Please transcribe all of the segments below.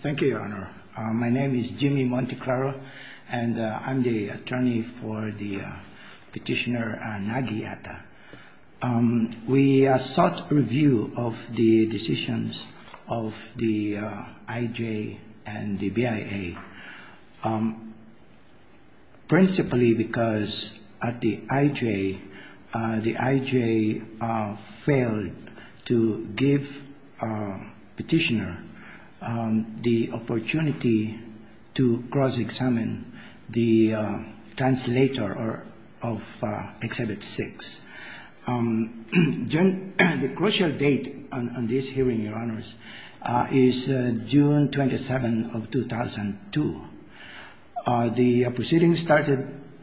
Thank you, Your Honor. My name is Jimmy Monteclaro, and I'm the attorney for the petitioner Nagi Atta. We sought review of the decisions of the IJ and the BIA, principally because at the IJ, the IJ failed to give petitioner the opportunity to cross-examine the translator of Exhibit 6. The crucial date on this hearing, Your Honors, is June 27 of 2002. The proceeding started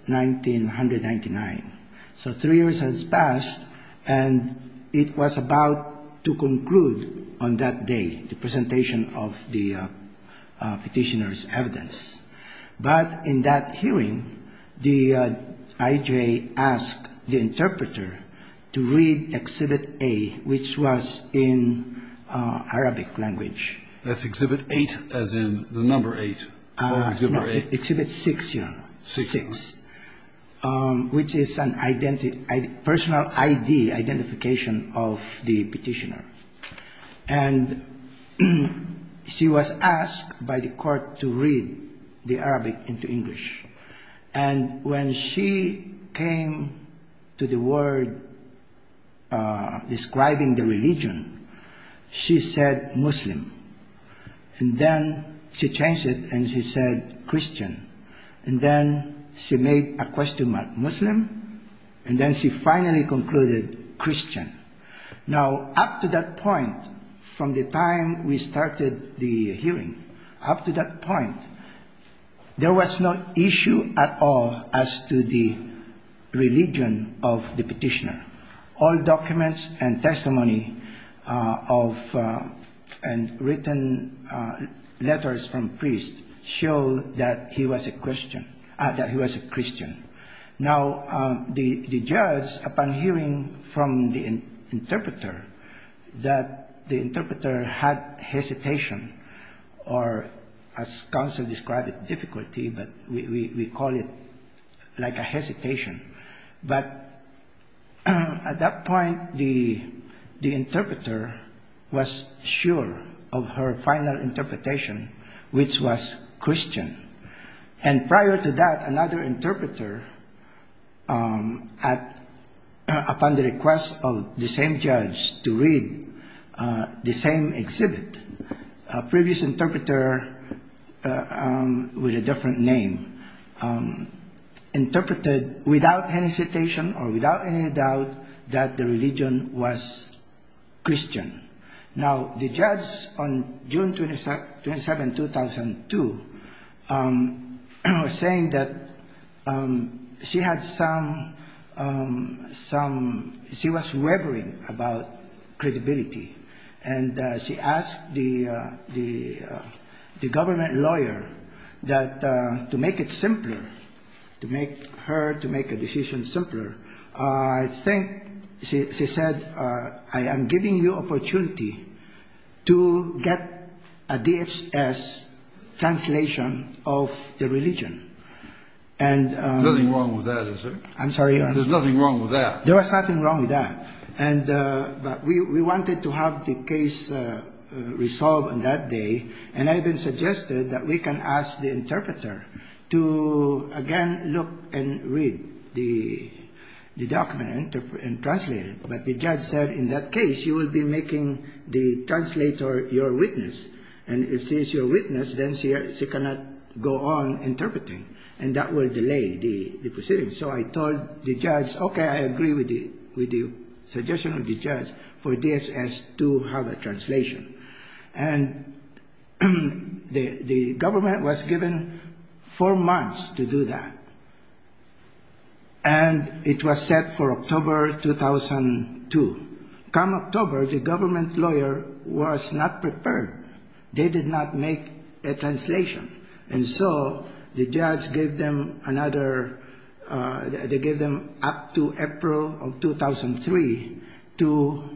1999. So three years has passed, and it was about to conclude on that day, the presentation of the petitioner's evidence. But in that hearing, the IJ asked the interpreter to read Exhibit A, which was in Arabic language. That's Exhibit 8, as in the number 8, or Exhibit 8. No, Exhibit 6, Your Honor. 6. 6, which is a personal ID, identification of the petitioner. And she was asked by the court to read the Arabic into English. And when she came to the word describing the religion, she said, Muslim. And then she changed it, and she said, Christian. And then she made a question mark, Muslim. And then she finally concluded, Christian. Now, up to that point, from the time we started the hearing, up to that point, there was no issue at all as to the religion of the petitioner. All documents and testimony of written letters from priests show that he was a Christian. Now, the judge, upon hearing from the interpreter, that the interpreter had hesitation or, as counsel described it, difficulty, but we call it like a hesitation. But at that point, the interpreter was sure of her final interpretation, which was Christian. And prior to that, another interpreter, upon the request of the same judge to read the same exhibit, a previous interpreter with a different name, interpreted without hesitation or without any doubt that the religion was Christian. Now, the judge, on June 27, 2002, was saying that she had some ‑‑ she was wavering about credibility. And she asked the government lawyer to make it simpler, to make her ‑‑ to make a decision simpler. I think she said, I am giving you opportunity to get a DHS translation of the religion. And ‑‑ There's nothing wrong with that, is there? I'm sorry, Your Honor. There's nothing wrong with that. There was nothing wrong with that. But we wanted to have the case resolved on that day. And I even suggested that we can ask the interpreter to, again, look and read the document and translate it. But the judge said, in that case, you will be making the translator your witness. And if she is your witness, then she cannot go on interpreting. And that will delay the proceeding. So I told the judge, okay, I agree with the suggestion of the judge for DHS to have a translation. And the government was given four months to do that. And it was set for October 2002. Come October, the government lawyer was not prepared. They did not make a translation. And so the judge gave them another ‑‑ they gave them up to April of 2003 to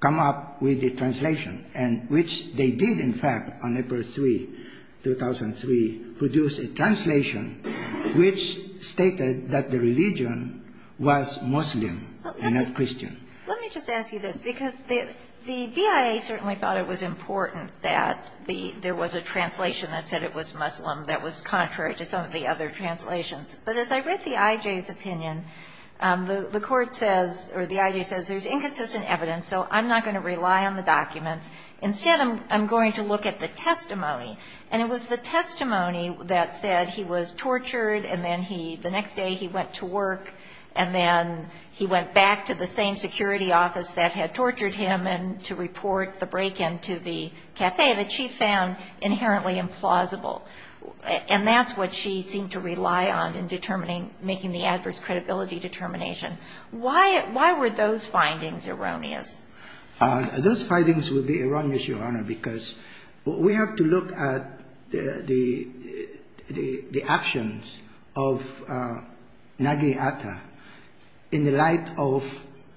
come up with the translation, and which they did, in fact, on April 3, 2003, produce a translation which stated that the religion was Muslim and not Christian. Let me just ask you this, because the BIA certainly thought it was important that there was a translation that said it was Muslim that was contrary to some of the other translations. But as I read the I.J.'s opinion, the court says, or the I.J. says, there's inconsistent evidence, so I'm not going to rely on the documents. Instead, I'm going to look at the testimony. And it was the testimony that said he was tortured, and then he ‑‑ the next day he went to work, and then he went back to the same security office that had tortured him and to report the break-in to the café that she found inherently implausible. And that's what she seemed to rely on in determining, making the adverse credibility determination. Why were those findings erroneous? Those findings would be erroneous, Your Honor, because we have to look at the actions of Nagi Atta in the light of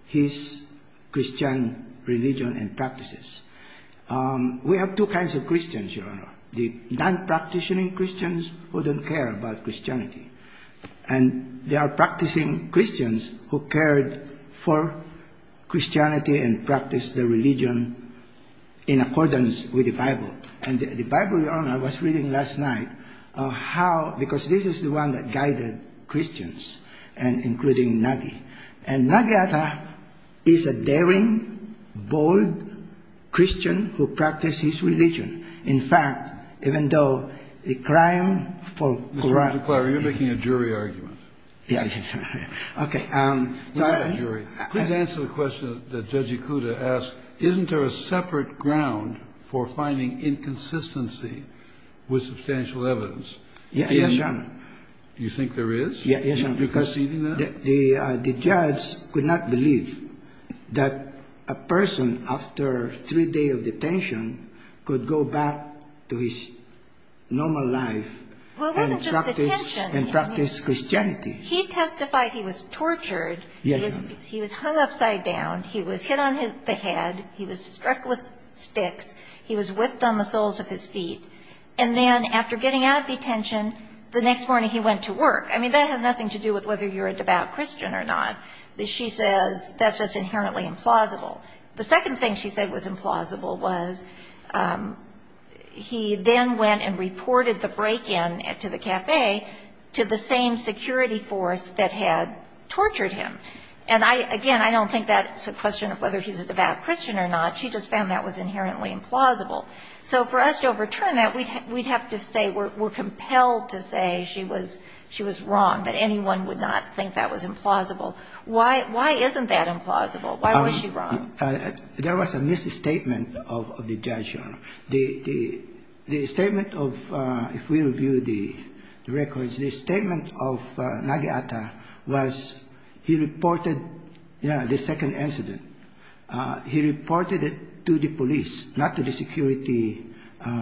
his Christian religion and practices. We have two kinds of Christians, Your Honor, the non‑practitioning Christians who don't care about Christianity. And there are practicing Christians who cared for Christianity and practiced the religion in accordance with the Bible. And the Bible, Your Honor, I was reading last night, how ‑‑ because this is the one that guided Christians, including Nagi. And Nagi Atta is a daring, bold Christian who practiced his religion. In fact, even though the crime for corruption ‑‑ Mr. Guadagno, you're making a jury argument. Yes. Okay. Please answer the question that Judge Ikuda asked. Isn't there a separate ground for finding inconsistency with substantial evidence? Yes, Your Honor. You think there is? Yes, Your Honor. Because the judge could not believe that a person after three days of detention could go back to his normal life and practice Christianity. He testified he was tortured. Yes, Your Honor. He was hung upside down. He was hit on the head. He was struck with sticks. He was whipped on the soles of his feet. And then after getting out of detention, the next morning he went to work. I mean, that has nothing to do with whether you're a devout Christian or not. She says that's just inherently implausible. The second thing she said was implausible was he then went and reported the break-in to the café to the same security force that had tortured him. And I, again, I don't think that's a question of whether he's a devout Christian or not. She just found that was inherently implausible. So for us to overturn that, we'd have to say we're compelled to say she was wrong, that anyone would not think that was implausible. Why isn't that implausible? Why was she wrong? There was a misstatement of the judge, Your Honor. The statement of, if we review the records, the statement of Nageata was he reported the second incident. He reported it to the police, not to the security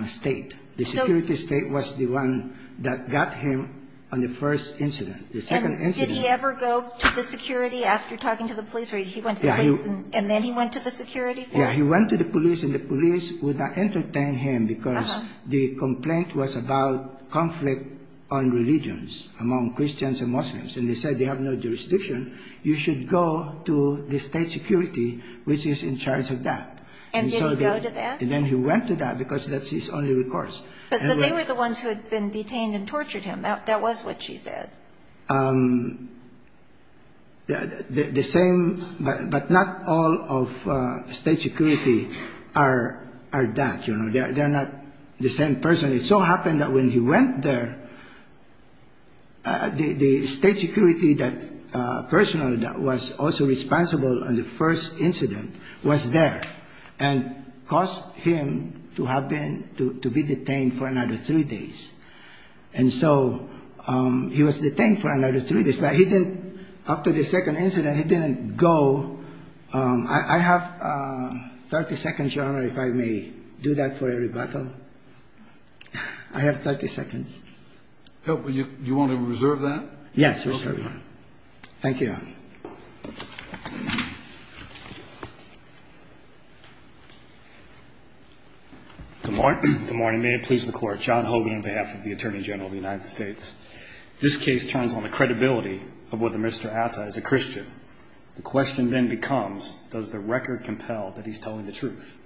State. The security State was the one that got him on the first incident. The second incident. And did he ever go to the security after talking to the police? Or he went to the police and then he went to the security force? Yeah. He went to the police and the police would not entertain him because the complaint was about conflict on religions among Christians and Muslims. And they said they have no jurisdiction. You should go to the State security, which is in charge of that. And did he go to that? And then he went to that because that's his only recourse. But they were the ones who had been detained and tortured him. That was what she said. The same, but not all of State security are that, you know. They're not the same person. It so happened that when he went there, the State security that personally that was also responsible on the first incident was there and caused him to have been to be detained for another three days. And so he was detained for another three days. But he didn't, after the second incident, he didn't go. I have 30 seconds, Your Honor, if I may do that for a rebuttal. I have 30 seconds. You want to reserve that? Yes, Your Honor. Thank you. Good morning. May it please the Court. John Hogan on behalf of the Attorney General of the United States. This case turns on the credibility of whether Mr. Atta is a Christian. The question then becomes, does the record compel that he's telling the truth?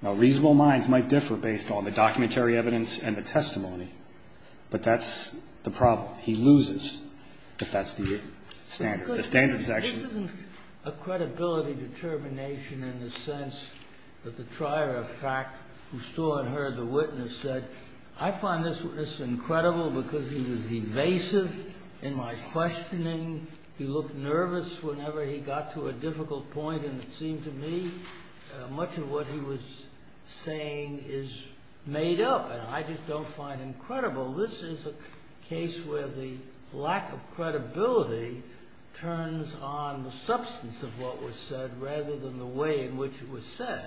Now, reasonable minds might differ based on the documentary evidence and the testimony, but that's the problem. He loses if that's the standard. The standard is actually. This isn't a credibility determination in the sense that the trier of fact, who still had heard the witness, said, I find this witness incredible because he was evasive in my questioning. He looked nervous whenever he got to a difficult point, and it seemed to me much of what he was saying is made up, and I just don't find him credible. This is a case where the lack of credibility turns on the substance of what was said rather than the way in which it was said.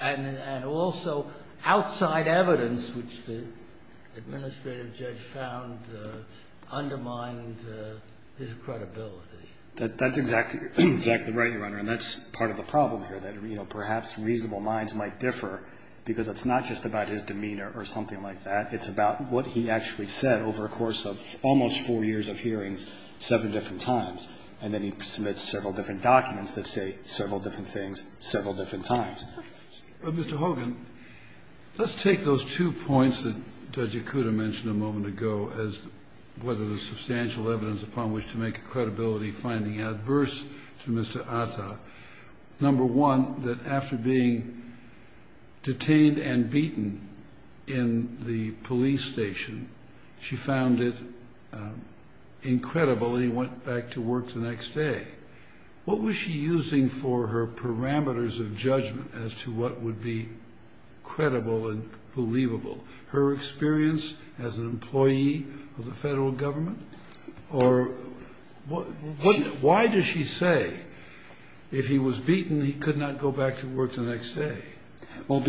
And also outside evidence, which the administrative judge found, undermined his credibility. That's exactly right, Your Honor, and that's part of the problem here, that perhaps reasonable minds might differ because it's not just about his demeanor or something like that. It's about what he actually said over a course of almost four years of hearings seven different times, and then he submits several different documents that say several different things several different times. Mr. Hogan, let's take those two points that Judge Ikuda mentioned a moment ago as whether there's substantial evidence upon which to make a credibility finding adverse to Mr. Atta. Number one, that after being detained and beaten in the police station, she found it incredible. He went back to work the next day. What was she using for her parameters of judgment as to what would be credible and believable? Her experience as an employee of the Federal Government? Or why does she say if he was beaten, he could not go back to work the next day? Well,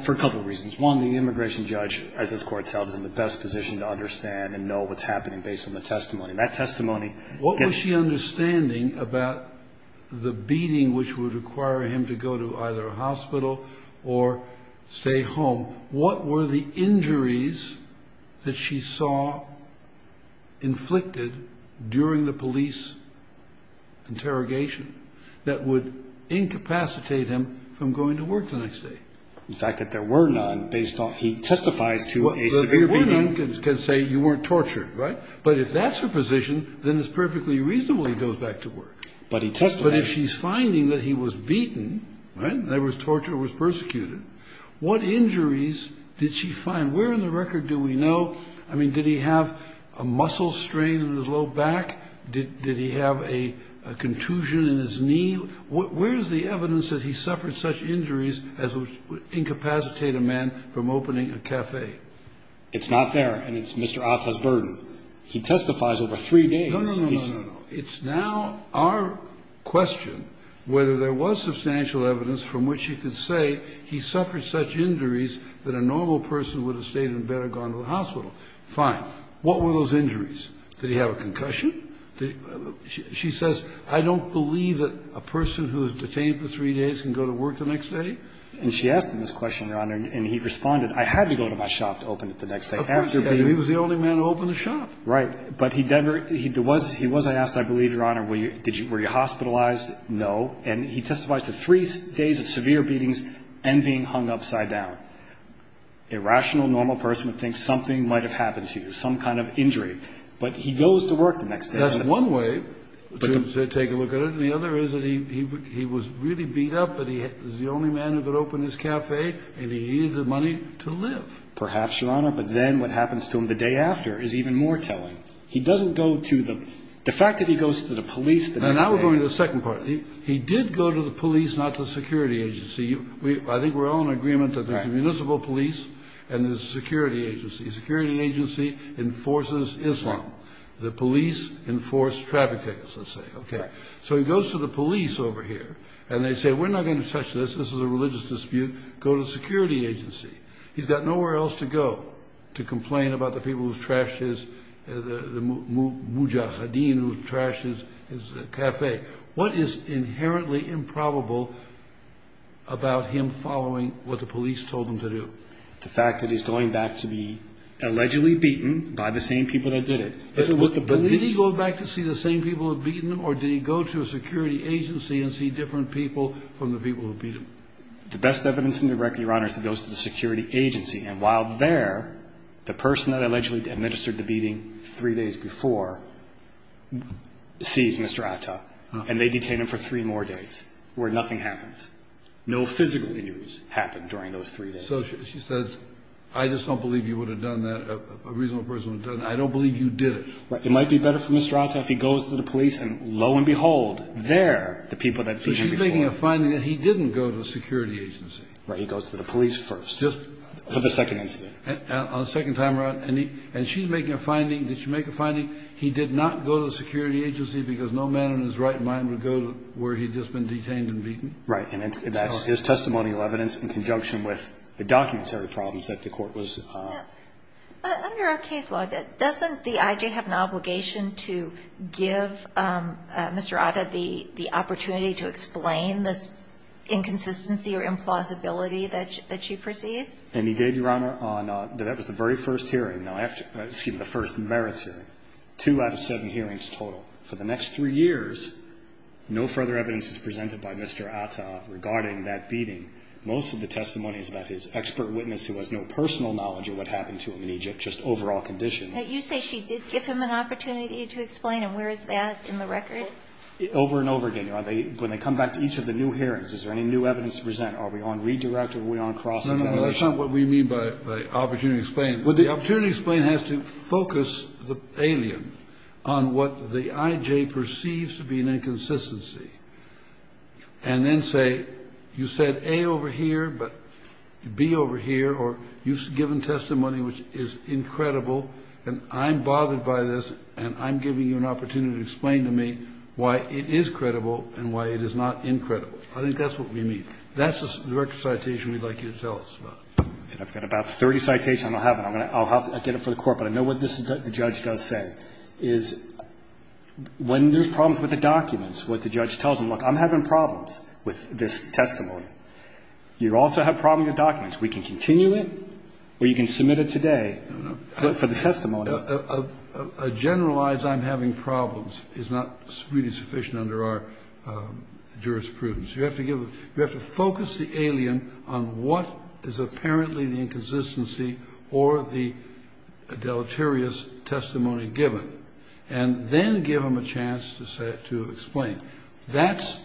for a couple of reasons. One, the immigration judge, as this Court tells, is in the best position to understand and know what's happening based on the testimony. What was she understanding about the beating which would require him to go to either a hospital or stay home? What were the injuries that she saw inflicted during the police interrogation that would incapacitate him from going to work the next day? The fact that there were none, based on he testifies to a severe beating. There were none that can say you weren't tortured, right? But if that's her position, then it's perfectly reasonable he goes back to work. But he testified. But if she's finding that he was beaten, right, that he was tortured or was persecuted, what injuries did she find? Where in the record do we know? I mean, did he have a muscle strain in his low back? Did he have a contusion in his knee? Where is the evidence that he suffered such injuries as would incapacitate a man from opening a café? It's not there, and it's Mr. Atta's burden. He testifies over three days. No, no, no, no, no. It's now our question whether there was substantial evidence from which you could say he suffered such injuries that a normal person would have stayed in bed or gone to the hospital. Fine. What were those injuries? Did he have a concussion? She says, I don't believe that a person who is detained for three days can go to work the next day. And she asked him this question, Your Honor, and he responded, I had to go to my shop to open it the next day. And he was the only man to open the shop. Right. But he was, I asked, I believe, Your Honor, were you hospitalized? No. And he testifies to three days of severe beatings and being hung upside down. A rational, normal person would think something might have happened to you, some kind of injury. But he goes to work the next day. That's one way to take a look at it, and the other is that he was really beat up, but he was the only man who could open his café, and he needed the money to live. Perhaps, Your Honor, but then what happens to him the day after is even more telling. He doesn't go to the, the fact that he goes to the police the next day. Now we're going to the second part. He did go to the police, not the security agency. I think we're all in agreement that there's a municipal police and there's a security agency. A security agency enforces Islam. The police enforce traffic tickets, let's say. So he goes to the police over here, and they say, we're not going to touch this. This is a religious dispute. Go to the security agency. He's got nowhere else to go to complain about the people who trashed his, the mujahideen who trashed his café. What is inherently improbable about him following what the police told him to do? The fact that he's going back to be allegedly beaten by the same people that did it. If it was the police. Did he go back to see the same people that beat him, or did he go to a security agency and see different people from the people who beat him? The best evidence in the record, Your Honor, is he goes to the security agency. And while there, the person that allegedly administered the beating three days before sees Mr. Atta, and they detain him for three more days where nothing happens. No physical injuries happened during those three days. So she says, I just don't believe you would have done that, a reasonable person would have done that. I don't believe you did it. It might be better for Mr. Atta if he goes to the police, and lo and behold, they're the people that beat him before. But she's making a finding that he didn't go to a security agency. Right. He goes to the police first. For the second incident. On the second time around. And she's making a finding, did she make a finding, he did not go to a security agency because no man in his right mind would go to where he'd just been detained and beaten? Right. And that's his testimonial evidence in conjunction with the documentary problems that the Court was. But under our case law, doesn't the I.J. have an obligation to give Mr. Atta the opportunity to explain this inconsistency or implausibility that she perceived? And he did, Your Honor. That was the very first hearing, excuse me, the first merits hearing. Two out of seven hearings total. For the next three years, no further evidence is presented by Mr. Atta regarding that beating. Most of the testimony is about his expert witness who has no personal knowledge of what happened to him in Egypt, just overall conditions. You say she did give him an opportunity to explain, and where is that in the record? Over and over again, Your Honor. When they come back to each of the new hearings, is there any new evidence to present? Are we on redirect or are we on cross-examination? No, no, that's not what we mean by opportunity to explain. The opportunity to explain has to focus the alien on what the I.J. perceives to be an inconsistency and then say, you said A over here, but B over here, or you've given testimony which is incredible and I'm bothered by this and I'm giving you an opportunity to explain why it is credible and why it is not incredible. I think that's what we mean. That's the record citation we'd like you to tell us about. And I've got about 30 citations. I don't have them. I'll get them for the Court, but I know what the judge does say, is when there's problems with the documents, what the judge tells them, look, I'm having problems with this testimony. You also have problems with documents. We can continue it or you can submit it today for the testimony. A generalized I'm having problems is not really sufficient under our jurisprudence. You have to give them you have to focus the alien on what is apparently the inconsistency or the deleterious testimony given, and then give them a chance to say, to explain. That's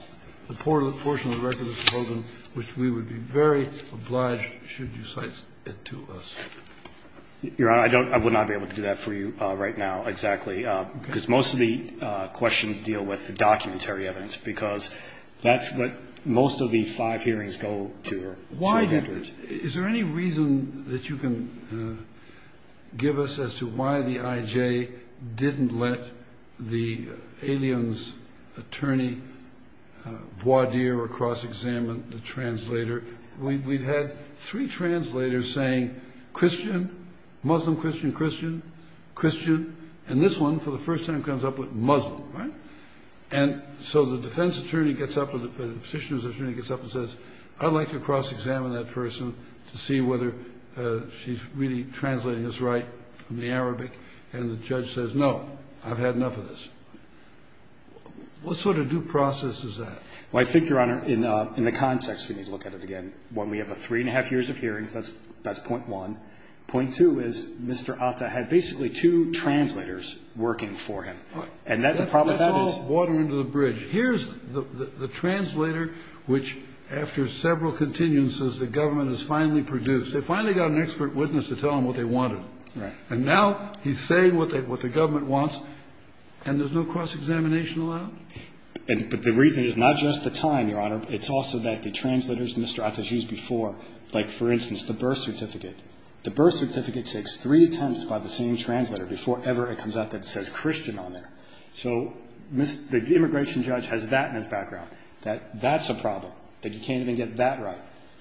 the portion of the record that's proposed, which we would be very obliged should you cite it to us. Your Honor, I don't I would not be able to do that for you right now, exactly, because most of the questions deal with the documentary evidence, because that's what most of the five hearings go to. Is there any reason that you can give us as to why the I.J. didn't let the aliens attorney voir dire or cross-examine the translator? We've had three translators saying Christian, Muslim, Christian, Christian, Christian, and this one, for the first time, comes up with Muslim, right? And so the defense attorney gets up or the petitioner's attorney gets up and says, I'd like to cross-examine that person to see whether she's really translating this right from the Arabic, and the judge says, no, I've had enough of this. What sort of due process is that? Well, I think, Your Honor, in the context, we need to look at it again. One, we have a three-and-a-half years of hearings. That's point one. Point two is Mr. Atta had basically two translators working for him. And that's the problem. That's all water under the bridge. Here's the translator which, after several continuances, the government has finally produced. They finally got an expert witness to tell them what they wanted. Right. And now he's saying what the government wants, and there's no cross-examination allowed? But the reason is not just the time, Your Honor. It's also that the translators Mr. Atta has used before, like, for instance, the birth certificate. The birth certificate takes three attempts by the same translator before ever it comes out that it says Christian on there. So the immigration judge has that in his background, that that's a problem, that you can't even get that right.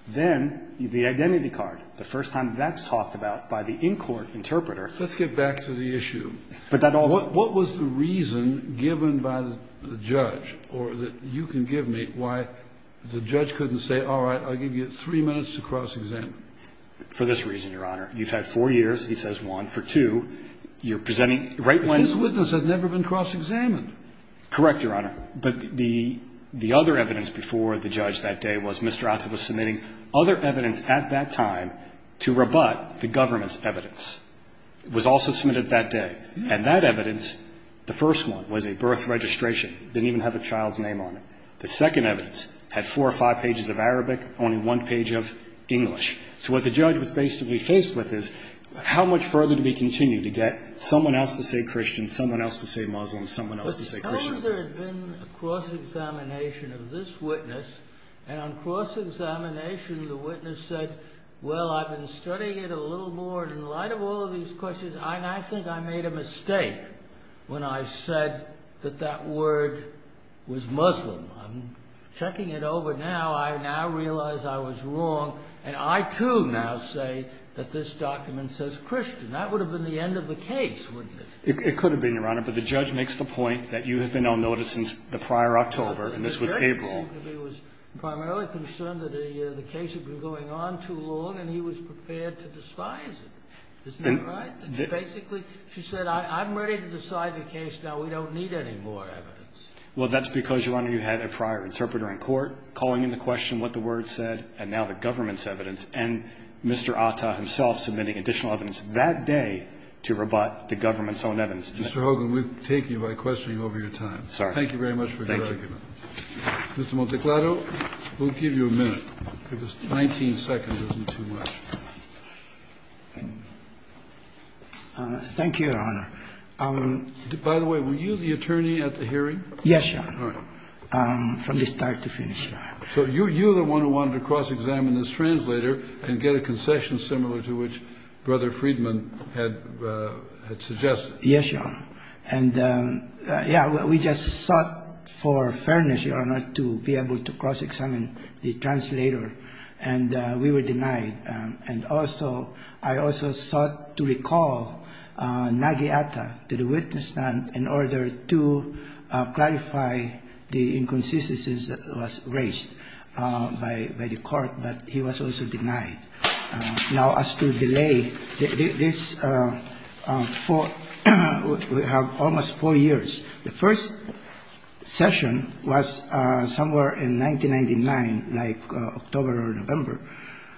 Then the identity card, the first time that's talked about by the in-court interpreter. Let's get back to the issue. But that all the time. And that's the reason given by the judge, or that you can give me, why the judge couldn't say, all right, I'll give you three minutes to cross-examine. For this reason, Your Honor. You've had four years, he says, one. For two, you're presenting right when. But his witness had never been cross-examined. Correct, Your Honor. But the other evidence before the judge that day was Mr. Atta was submitting other evidence at that time to rebut the government's evidence. It was also submitted that day. And that evidence, the first one, was a birth registration. It didn't even have the child's name on it. The second evidence had four or five pages of Arabic, only one page of English. So what the judge was basically faced with is how much further do we continue to get someone else to say Christian, someone else to say Muslim, someone else to say Christian. But how would there have been a cross-examination of this witness? And on cross-examination, the witness said, well, I've been studying it a little more. But in light of all of these questions, and I think I made a mistake when I said that that word was Muslim. I'm checking it over now. I now realize I was wrong. And I, too, now say that this document says Christian. That would have been the end of the case, wouldn't it? It could have been, Your Honor. But the judge makes the point that you have been on notice since the prior October, and this was April. He was primarily concerned that the case had been going on too long, and he was prepared to despise it. Isn't that right? Basically, she said, I'm ready to decide the case now. We don't need any more evidence. Well, that's because, Your Honor, you had a prior interpreter in court calling into question what the words said, and now the government's evidence, and Mr. Atta himself submitting additional evidence that day to rebut the government's own evidence. Mr. Hogan, we take you by questioning over your time. Sorry. Thank you very much for your argument. Thank you. Mr. Monteclado, we'll give you a minute, because 19 seconds isn't too much. Thank you, Your Honor. By the way, were you the attorney at the hearing? Yes, Your Honor. All right. From the start to finish. So you're the one who wanted to cross-examine this translator and get a concession similar to which Brother Friedman had suggested. Yes, Your Honor. And, yeah, we just sought for fairness, Your Honor, to be able to cross-examine the translator, and we were denied. And also, I also sought to recall Nagi Atta to the witness stand in order to clarify the inconsistencies that was raised by the court, but he was also denied. Now, as to delay this, we have almost four years. The first session was somewhere in 1999, like October or November.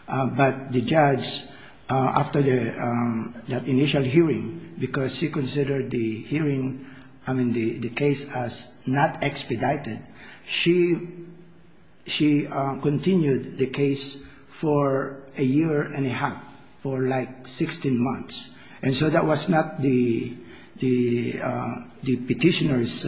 But the judge, after that initial hearing, because she considered the hearing, I mean, the case as not expedited, she continued the case for another four years. A year and a half, for like 16 months. And so that was not the petitioner's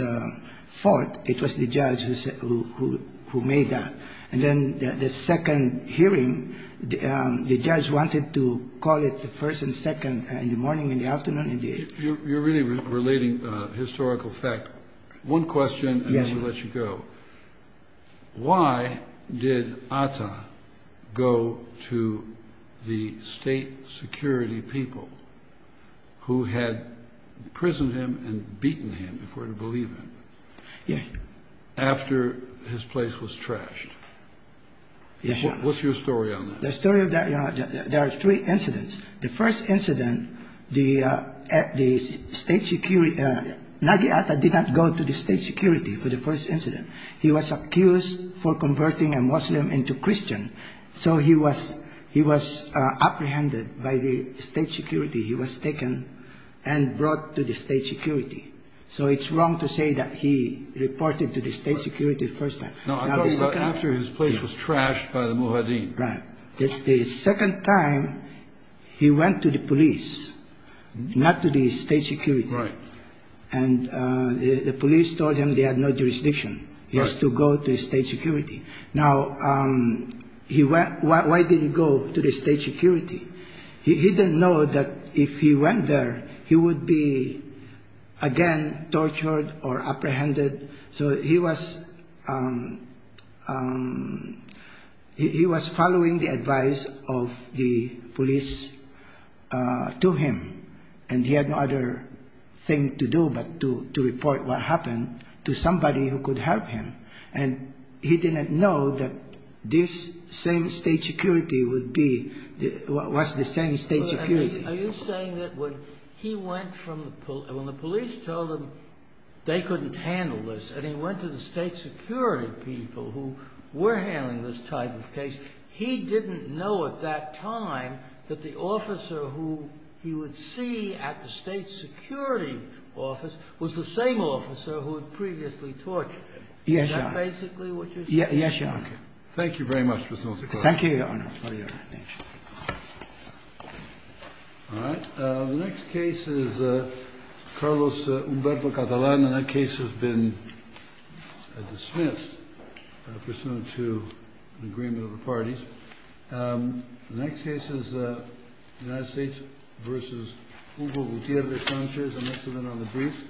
fault. It was the judge who made that. And then the second hearing, the judge wanted to call it the first and second in the morning and the afternoon and the evening. You're really relating historical fact. One question, and then we'll let you go. Yes. Why did Atta go to the state security people who had imprisoned him and beaten him, if we're to believe him, after his place was trashed? Yes, Your Honor. What's your story on that? The story of that, Your Honor, there are three incidents. The first incident, the state security, Nagi Atta did not go to the state security for the first incident. He was accused for converting a Muslim into Christian, so he was apprehended by the state security. He was taken and brought to the state security. So it's wrong to say that he reported to the state security the first time. No, I thought it was after his place was trashed by the Muhaddin. Right. The second time, he went to the police, not to the state security. Right. And the police told him they had no jurisdiction. Right. He has to go to the state security. Now, why did he go to the state security? He didn't know that if he went there, he would be again tortured or apprehended. So he was following the advice of the police to him, and he had no other thing to do but to report what happened to somebody who could help him. And he didn't know that this same state security would be what was the same state security. Are you saying that when he went from the police, when the police told him they couldn't handle this and he went to the state security people who were handling this type of case, he didn't know at that time that the officer who he would see at the state security office was the same officer who had previously tortured him? Yes, Your Honor. Is that basically what you're saying? Yes, Your Honor. Okay. Thank you very much, Mr. Montecorio. Thank you, Your Honor. All right. The next case is Carlos Humberto Catalan, and that case has been dismissed pursuant to an agreement of the parties. The next case is United States v. Hugo Gutierrez Sanchez, and that's another brief.